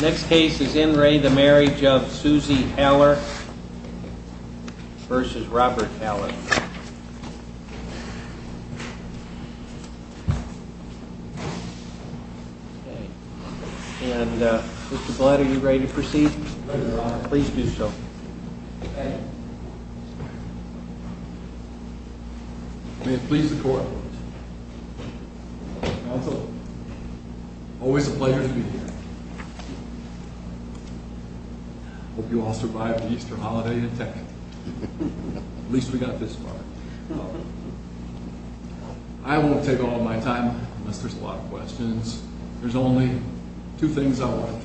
Next case is in Ray. The marriage of Susie Heller versus Robert Taylor. And, uh, what's the blood? Are you ready to proceed? Please do so. Please. Council always a pleasure. Okay. Hope you all survived the Easter holiday attack. At least we got this far. I won't take all my time unless there's a lot of questions. There's only two things I want.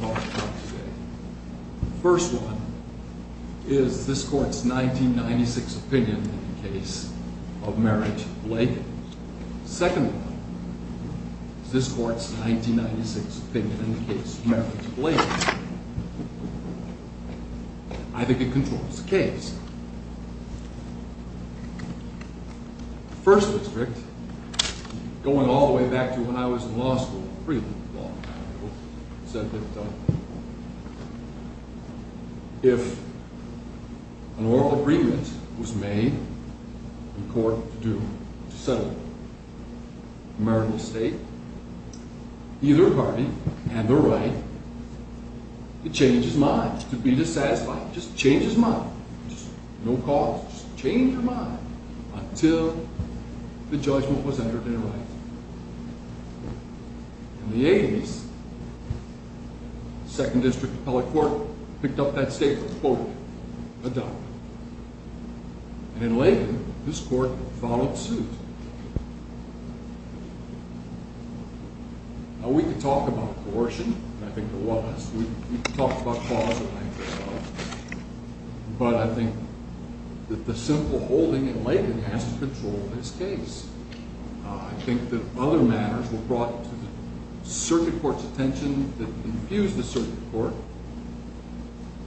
First one is this court's 1996 opinion in the case of marriage Lake. Second, I think it controls the case. First district going all the way back to when I was in law school, said that if an oral agreement was made court to settle the case, murder state either party and the right to change his mind to be dissatisfied. Just change his mind. No calls. Change your mind until the judgment was entered. In the eighties, second district appellate court picked up that state and then later this court followed suit. Yeah, we could talk about abortion. I think it was. We talked about closet. But I think the simple holding it later has to control his case. I think that other matters were brought to the circuit court's attention that infuse the circuit court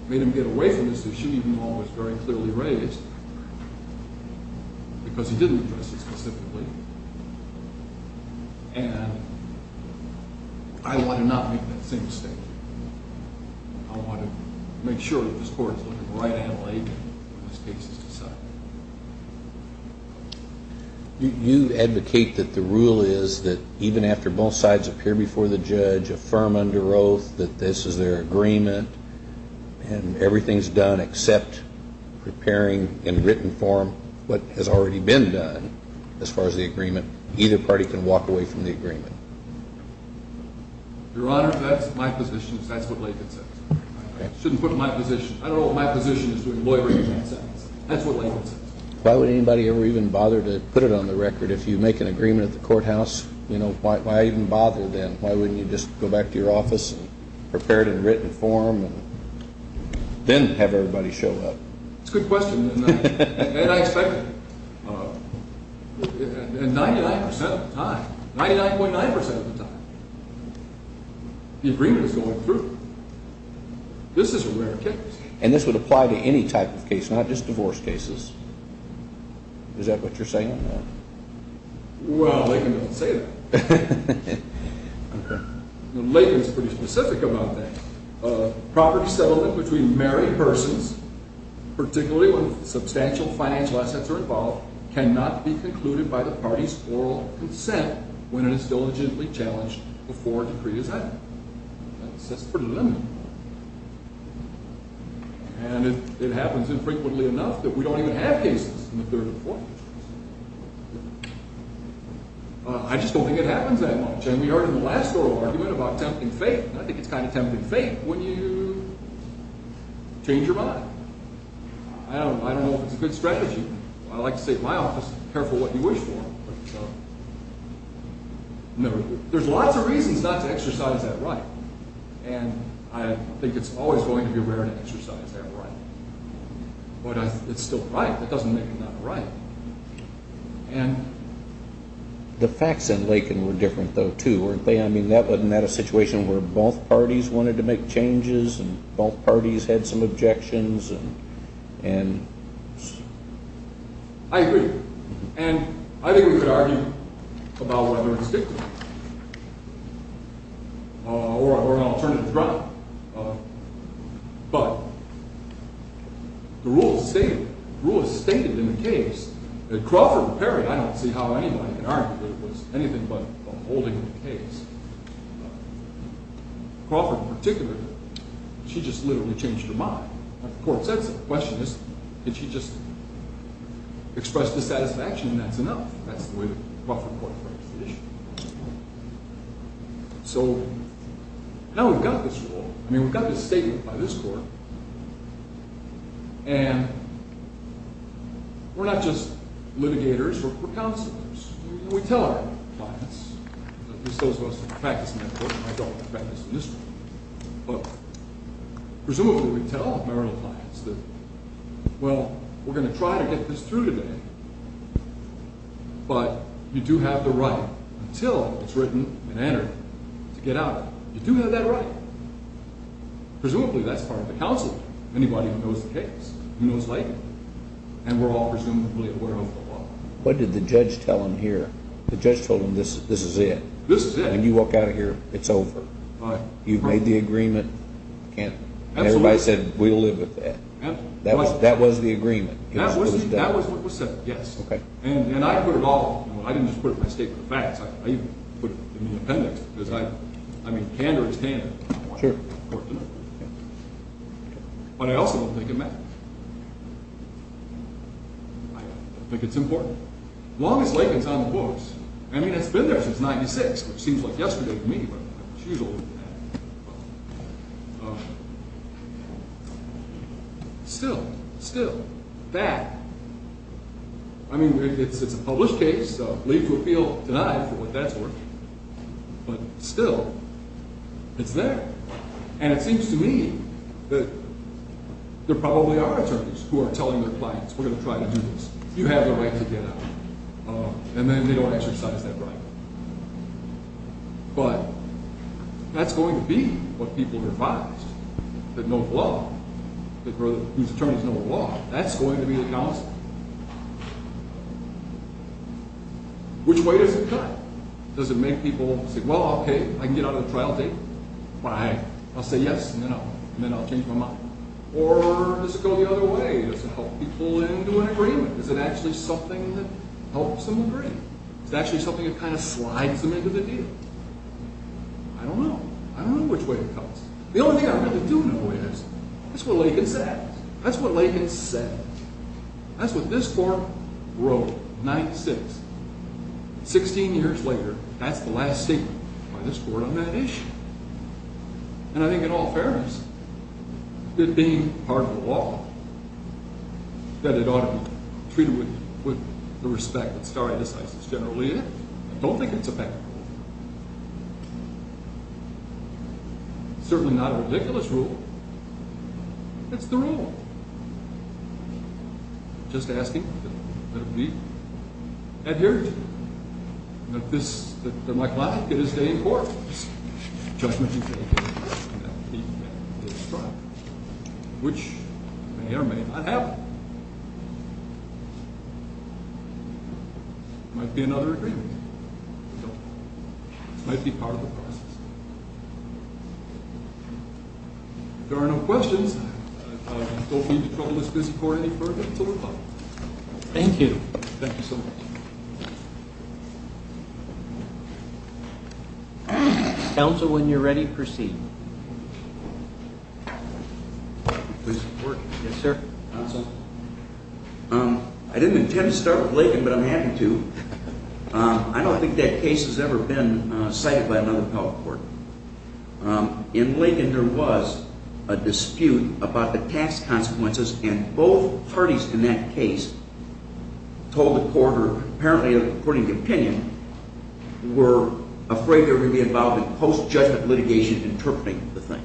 made him get away from this. They should even always very clearly raised because he didn't address it specifically. And I want to not make that same state. I want to make sure that this court right you advocate that the rule is that even after both sides appear before the judge, affirm under oath that this is their agreement and everything's done except preparing in written form what has already been done as far as the walk away from the agreement. Your Honor, that's my position. That's what I shouldn't put my position. I don't know what my position is doing. That's what why would anybody ever even bother to put it on the record? If you make an agreement at the courthouse, you know, why even bother? Then why wouldn't you just go back to your office prepared in written form? Then have everybody show up. It's good question. And I expect 99% of the time, 99.9% of the time the agreement is going through. This is a rare case, and this would apply to any type of case, not just divorce cases. Is that what you're saying? Well, they can say that later. It's pretty specific about that property settlement between married persons, particularly when substantial financial assets are involved, cannot be concluded by the party's oral consent when it is diligently challenged before decree is added. That's pretty limited. And it happens infrequently enough that we don't even have cases in the third or fourth. I just don't think it happens that much. And we heard in the last oral argument about tempting fate, and I think it's kind of tempting fate when you change your mind. I don't know. I don't know if it's a good strategy. I like to say at my office, careful what you wish for. No, there's lots of reasons not to exercise that right, and I think it's always going to be rare to exercise that right. But it's still right. That doesn't make it not right. The facts in Lakin were different, though, too, weren't they? I mean, that wasn't that a situation where both parties wanted to make changes and both parties had some objections and... I agree. And I think we could argue about whether it's difficult or an alternative route. But the rule stated in the case that Crawford and Perry, I don't see how anybody could argue it was anything but a holding of the case. Crawford in particular, she just literally changed her mind. The court said, the question is, did she just express dissatisfaction and that's enough? That's the way the Crawford court frames the issue. So now we've got this rule. I mean, we've got this statement by this court, and we're not just litigators, we're counselors. We tell our clients, at practice, but presumably we tell our clients that, well, we're gonna try to get this through today, but you do have the right until it's written and entered to get out. You do have that right. Presumably that's part of the counsel. Anybody who knows the case knows and we're all presumably aware of the law. What did the judge tell him here? The judge told him this is it. When you walk out of here, it's over. You've made the agreement. Everybody said, we'll live with that. That was the agreement. That was what was said, yes. And I put it all, I didn't just put it in my statement of facts, I even put it in the appendix. I mean, candor is candor. But I also don't think it matters. Yeah, I think it's important. Longest Lincoln's on the books. I mean, it's been there since 96, which seems like yesterday for me. Still, still that I mean, it's a published case, so leave to appeal tonight for what that's worth. But still it's there, and it seems to me that there probably are attorneys who are telling their clients we're gonna try to do this. You have the right to get out, and then they don't exercise that right. But that's going to be what people are advised that no law, whose attorneys know the law, that's going to be the council. Yeah. Which way is it? Does it make people say, Well, okay, I can get out of the trial date, but I'll say yes, you know, and then I'll change my mind. Or does it go the other way? Does it help people into an agreement? Is it actually something that helps them agree? It's actually something that kind of slides them into the deal. I don't know. I don't know which way it comes. The only thing I really don't know is that's what Lincoln said. That's what Lincoln said. That's what this court wrote 96 16 years later. That's the last statement on this board on that issue. And I think in all fairness, it being part of the law that it ought to be treated with the respect that started this is generally it. I don't think it's a bad rule. Certainly not a ridiculous rule. That's the rule. Just asking adhere that this that my client get his day in court judgment. Which I have might be another might be part of the process. There are no questions. Don't be the trouble. This is for any further. Thank you. Council. When you're ready, proceed. Yes, sir. Um, I didn't intend to start with Lincoln, but I'm happy to. I don't think that case has ever been cited by another public court. In Lincoln, there was a dispute about the tax consequences, and both parties in that case told the quarter apparently according to opinion were afraid they would be involved in post judgment litigation interpreting the thing.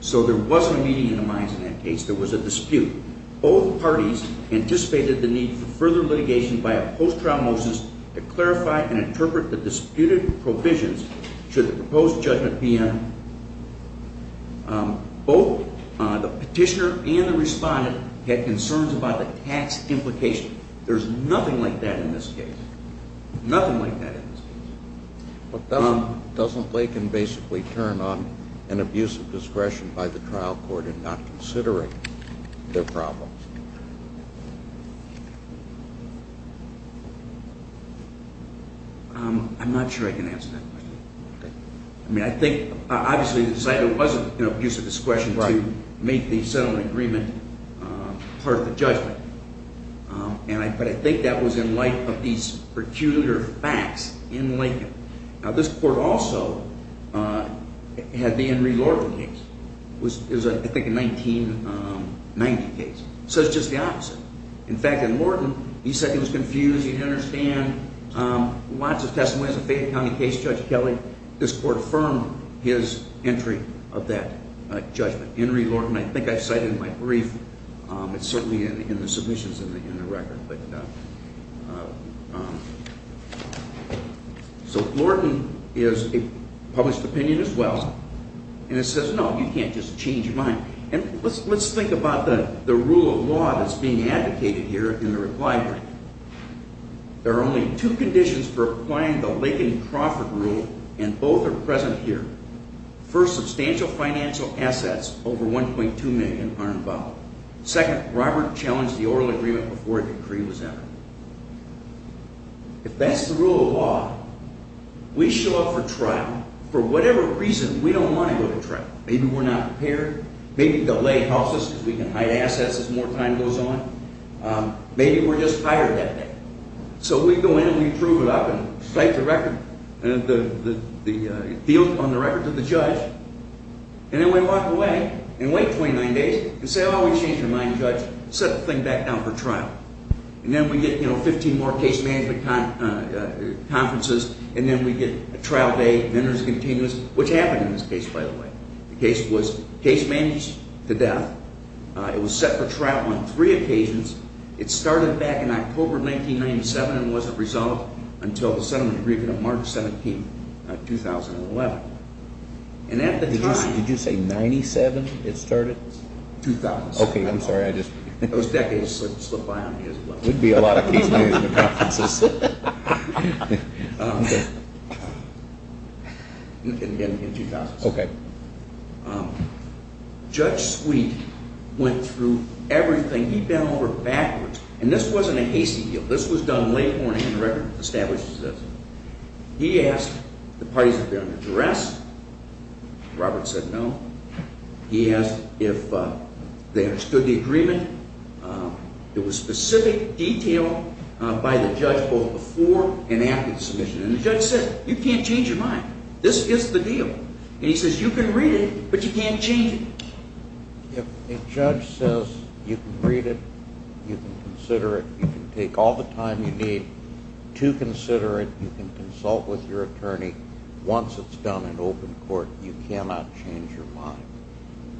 So there wasn't a meeting in the minds of that case. There was a dispute. Both parties anticipated the need for further litigation by a post trial motions to clarify and interpret the disputed provisions. Should the proposed judgment be on both the petitioner and the respondent had concerns about the tax implication. There's nothing like that in this case. Nothing like that. Doesn't Lincoln basically turn on an abuse of discretion by the trial court and not considering their problems? I'm not sure I can answer that. I mean, I think obviously the site wasn't, you know, use of this question to make the settlement agreement part of the judgment, but I think that was in light of these peculiar facts in Lincoln. Now, this court also had the Henry Lorton case, which is, I think, a 1990 case. So it's just the opposite. In fact, in order to understand lots of testimonies of Fayette County case, Judge Kelley, this court affirmed his entry of that judgment. Henry Lorton, I think I cited in my brief. It's certainly in the submissions in the record. So Lorton is a published opinion as well. And it says, no, you can't just change your mind. And let's think about the rule of law that's being advocated here in the reply. There are only two conditions for applying the Lakin-Crawford rule, and both are present here. First, substantial financial assets over 1.2 million are involved. Second, Robert challenged the oral agreement before a decree was ever. If that's the rule of law, we show up for trial for whatever reason we don't want to go to trial. Maybe we're not prepared. Maybe the lay helps us because we can hide assets as more time goes on. Maybe we're just hired that day. So we go in and we prove it up and cite the record and the field on the record to the judge. And then we walk away and wait 29 days and say, oh, we changed our mind, Judge, set the thing back down for trial. And then we get, you know, 15 more case management conferences, and then we get a trial day, vendors continuous, which happened in this case, by the way. The case was case managed to death. It was set for trial on three occasions. It started back in October of 1997 and wasn't resolved until the settlement agreement of March 17, 2011. And at the time, did you say 97? It started 2000. Okay. I'm sorry. I just, it was decades slip by on me as well. It would be a lot of case management conferences. Okay. Judge Sweet went through everything. He bent over backwards and this wasn't a hasty deal. This was done late morning. The record establishes this. He asked the parties of their own address. Robert said, no. He asked if they understood the agreement. It was specific detail by the judge, both before and after the submission. And the judge said, you can't change your mind. This is the deal. And he says, you can read it, but you can't change it. If a judge says you can read it, you can consider it, you can take all the time you need to consider it. You can consult with your attorney. Once it's done in open court, you cannot change your mind.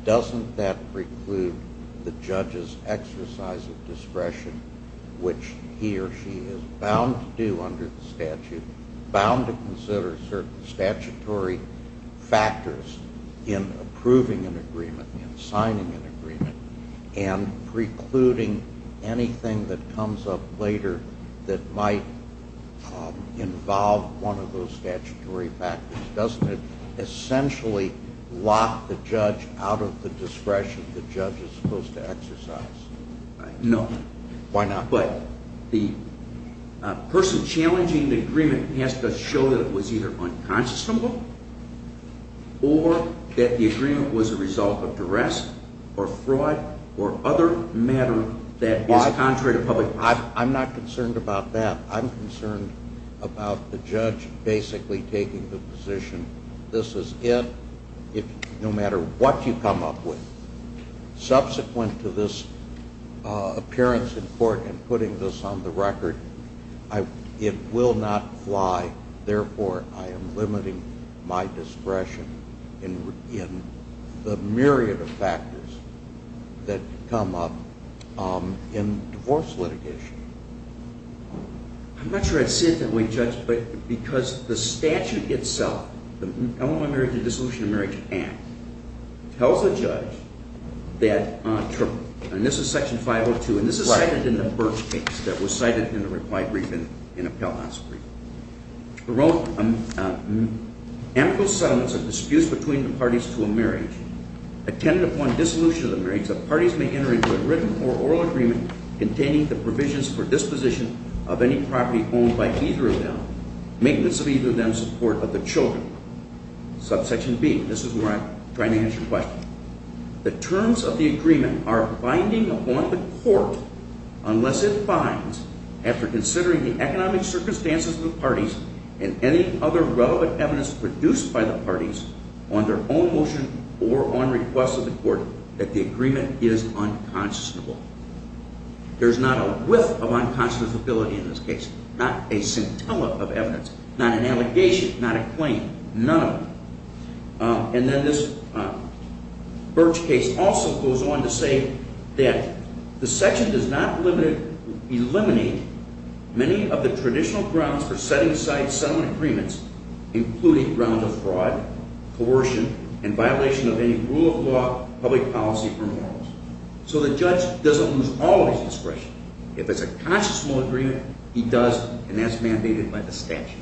Doesn't that preclude the judge's exercise of discretion, which he or she is bound to do under the statute, bound to consider certain statutory factors in approving an agreement, in signing an agreement, and precluding anything that comes up later that might involve one of those statutory factors, doesn't it essentially lock the judge out of the discretion the judge is supposed to exercise? No. Why not? Well, the person challenging the agreement has to show that it was either unconscionable or that the agreement was a result of duress or fraud or other matter that is contrary to public policy. I'm not concerned about that. I'm concerned about the judge basically taking the position. This is it, no matter what you come up with. Subsequent to this appearance in court and putting this on the record, it will not fly. Therefore, I am limiting my discretion in the myriad of factors that come up in divorce litigation. I'm not sure I'd say it that way, Judge, but because the statute itself, the Illinois Marriage and Dissolution of Marriage Act, tells the judge that, and this is section 502, and this is cited in the Burke case that was cited in the reply brief in Appellant House brief. Amical settlements of disputes between the parties to a marriage attended upon dissolution of the marriage, the parties may enter into a written or oral agreement containing the provisions for disposition of any property owned by either of them, maintenance of either of them, support of the children, subsection B. This is where I'm trying to answer your question. The terms of the agreement are binding upon the court unless it finds, after considering the economic circumstances of the parties and any other relevant evidence produced by the parties on their own motion or on request of the court, that the agreement is unconscionable. There's not a whiff of unconscionability in this case, not a scintilla of evidence, not an allegation, not a claim, none of them. And then this Burke case also goes on to say that the section does not eliminate many of the traditional grounds for setting aside settlement agreements, including grounds of fraud, coercion, and violation of any rule of law, public policy, or morals. So the judge doesn't lose all of his discretion. If it's a conscious law agreement, he does, and that's mandated by the statute.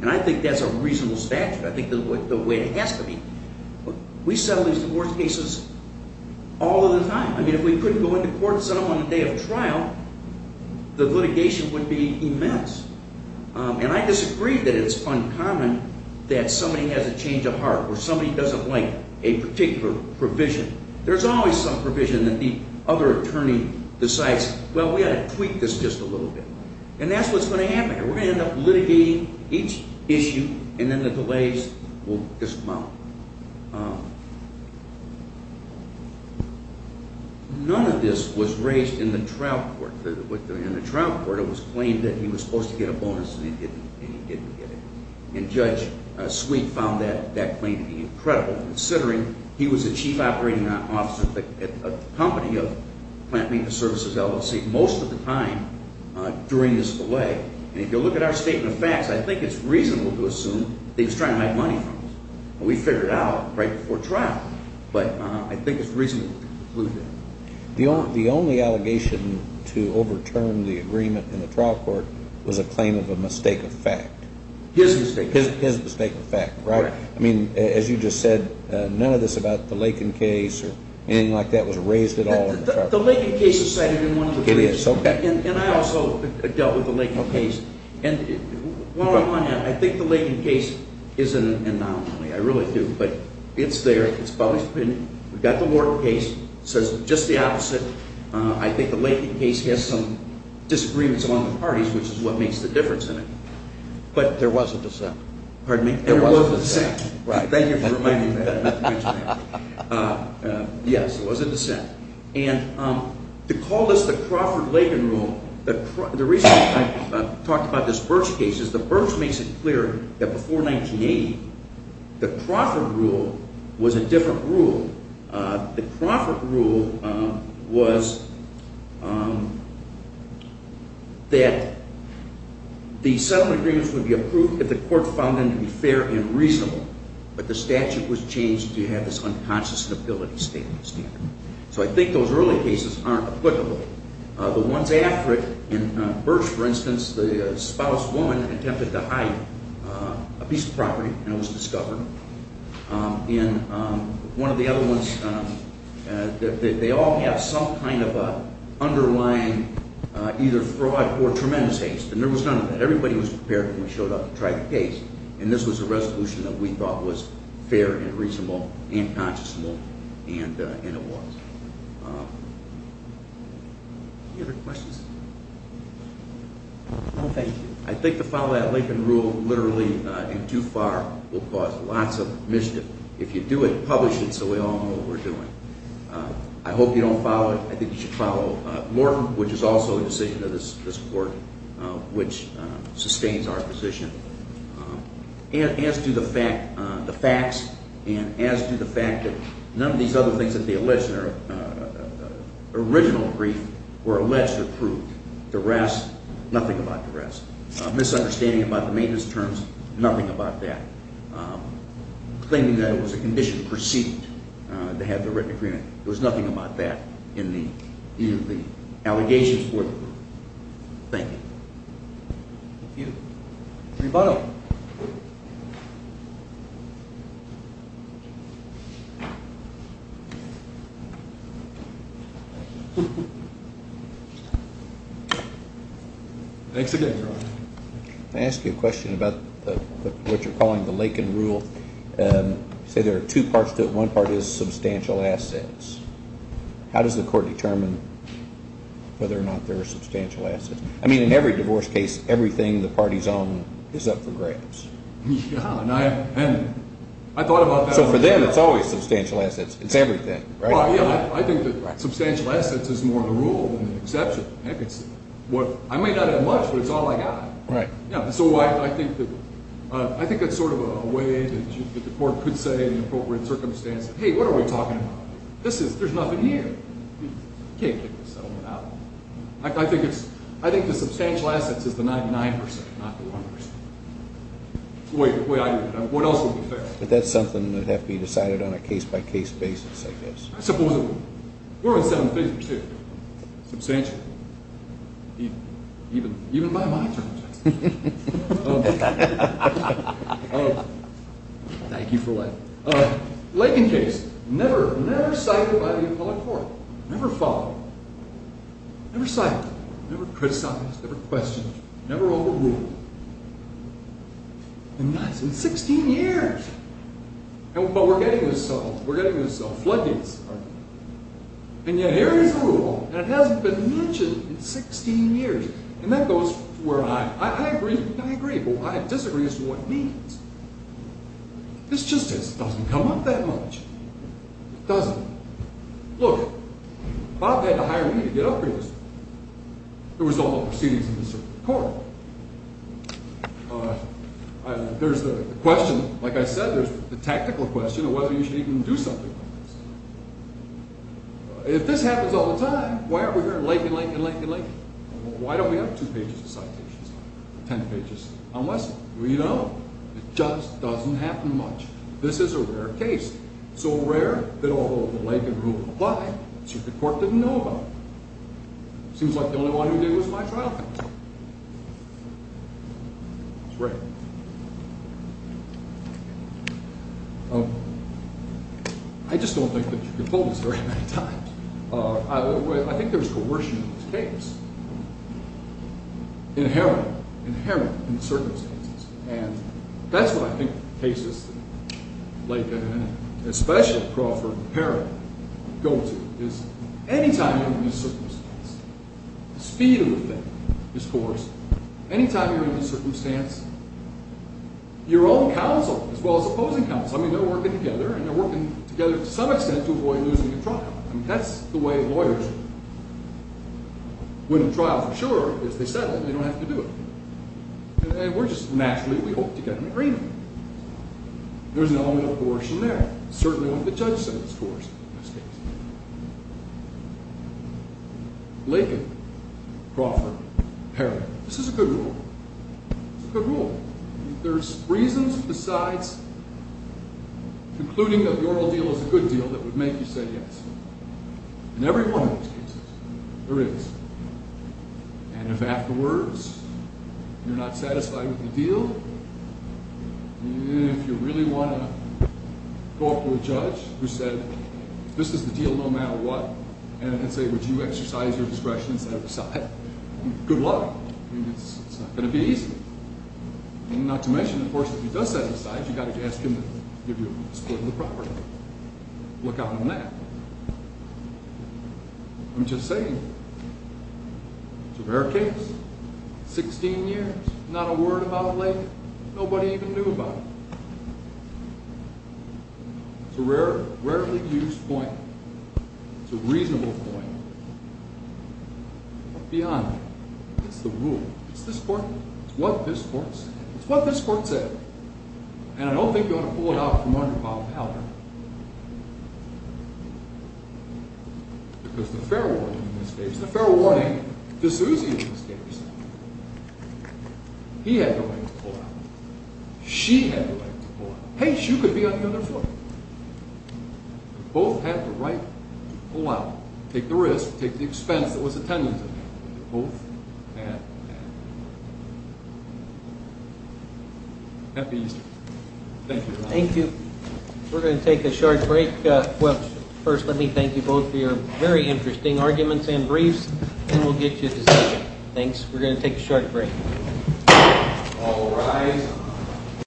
And I think that's a reasonable statute. I think that's the way it has to be. We settle these divorce cases all of the time. I mean, if we couldn't go into court and settle them on the day of trial, the litigation would be immense. And I disagree that it's uncommon that somebody has a change of heart or somebody doesn't like a particular provision. There's always some provision that the other attorney decides, well, we ought to tweak this just a little bit. And that's what's going to happen. We're going to end up litigating each issue and then the delays will dismount. None of this was raised in the trial court. In the trial court, it was claimed that he was supposed to get a bonus and he didn't get it. And Judge Sweet found that claim to be incredible, considering he was a chief operating officer at a company of plant maintenance services LLC most of the time during this delay. And if you look at our statement of facts, I think it's reasonable to assume that he was trying to make money from us. We figured it out right before trial. But I think it's reasonable to conclude that. The only allegation to overturn the agreement in the trial court was a claim of a mistake of fact. His mistake of fact, right? I mean, as you just said, none of this about the Lakin case or anything like that was raised at all in the trial court. The Lakin case is cited in one of the briefs. And I also dealt with the Lakin case. And I think the Lakin case is an anomaly. I really do. But it's there. It's published opinion. We've got the Wharton case. It says just the opposite. I think the Lakin case has some disagreements among the parties, which is what makes the difference in it. But there was a dissent. Pardon me? There was a dissent. Right. Thank you for reminding me. Yes, there was a dissent. And to call this the Crawford-Lakin rule, the reason I talked about this Birch case is the Birch makes it clear that before 1980, the Crawford rule was a different rule. The Crawford rule was that the settlement agreements would be approved if the court found them to be fair and reasonable, but the statute was changed to have this unconscious stability statement standard. So I think those early cases aren't applicable. The ones after it in Birch, for instance, the spouse, woman, attempted to hide a piece of property and it was discovered. In one of the other ones, they all have some kind of underlying either fraud or tremendous haste. And there was none of that. Everybody was prepared when we showed up to try the case. And this was a resolution that we thought was fair and reasonable and conscious and it was. Any other questions? No, thank you. I think to follow that Lakin rule literally in too far will cause lots of mischief. If you do it, publish it so we all know what we're doing. I hope you don't follow it. I think you should follow Morton, which is also a decision of this court, which sustains our position. And as to the fact, the facts, and as to the fact that none of these other things that they allege in their original brief were alleged or proved, the rest, nothing about the rest. Misunderstanding about the maintenance terms, nothing about that. Claiming that it was a condition preceded to have the written agreement. There was nothing about that in the allegations for the group. Thank you. Thank you. Rebuttal. Thanks again. I ask you a question about what you're calling the Lakin rule. Say there are two parts to it. One part is substantial assets. How does the court determine whether or not there are substantial assets? I mean, in every divorce case, everything the party's own is up for grabs and I thought about that. So for them, it's always substantial assets. It's everything, right? I think that substantial assets is more of a rule than an exception. Heck, it's what, I may not have much, but it's all I got. Right. Yeah. And so I think that, I think that's sort of a way that the court could say in appropriate circumstances, hey, what are we talking about? This is, there's nothing here. Can't take the settlement out. I think it's, I think the substantial assets is the 99%, not the 1%. The way I view it. What else would be fair? But that's something that'd have to be decided on a case by case basis. I guess. Supposedly. We're on seven pages here. Substantial. Even, even, even by my judgment. Thank you for what? Lincoln case. Never, never cited by the appellate court. Never followed. Never cited. Never criticized. Never questioned. Never overruled. And that's in 16 years. And what we're getting is so, we're getting this floodgates. Pardon me. And yet here is a rule that hasn't been mentioned in 16 years. And that goes where I, I agree, I agree, but I disagree as to what needs. It's just, it doesn't come up that much. Doesn't. Look, Bob had to hire me to get upgrades. There was all the proceedings in the circuit court. There's the question. Like I said, there's the tactical question of whether you should even do something. If this happens all the time, why are we here in Lincoln, Lincoln, Lincoln, Lincoln? Why don't we have two pages of citations? 10 pages on lesson. We know it just doesn't happen much. This is a rare case. So rare that although the Lincoln rule apply, the circuit court didn't know about it. Seems like the only one who did was my trial. It's great. Oh, I just don't think that you can pull this very many times. I think there's coercion in this case. Inherent, inherent in the circumstances. And that's what I think cases like that, and especially Crawford Herring go to is any time you're in a circumstance, the speed of the thing is coerced. Your own counsel, as well as opposing counsel. I mean, they're working together and they're working together to some extent to avoid losing a trial. I mean, that's the way lawyers win a trial for sure. If they said it, they don't have to do it. And we're just naturally, we hope to get an agreement. There's an element of coercion there. Certainly, when the judge says it's coerced in this case. Lincoln, Crawford, Herring. This is a good rule. It's a good rule. There's reasons besides concluding that the oral deal is a good deal that would make you say yes. In every one of those cases, there is. And if afterwards, you're not satisfied with the deal, if you really want to go up to a judge who said, this is the deal no matter what, and say, would you exercise your discretion instead of decide, good luck. I mean, it's not going to be easy. Not to mention, of course, if he does set aside, you got to ask him to give you a split of the property. Look out on that. I'm just saying. It's a rare case. 16 years, not a word about Lincoln. Nobody even knew about it. It's a rarely used point. It's a reasonable point. Beyond that, it's the rule. It's this court. It's what this court said. It's what this court said. And I don't think you want to pull it out from under Bob Allen. Because the fair warning in this case, the fair warning to Susie in this case. He had the right to pull out. She had the right to pull out. Hey, she could be on the other foot. Both had the right to pull out. Take the risk. Take the expense that was attended to. Both had the right. Happy Easter. Thank you. Thank you. We're going to take a short break. Well, first, let me thank you both for your very interesting arguments and briefs and we'll get you to say thanks. We're going to take a short break.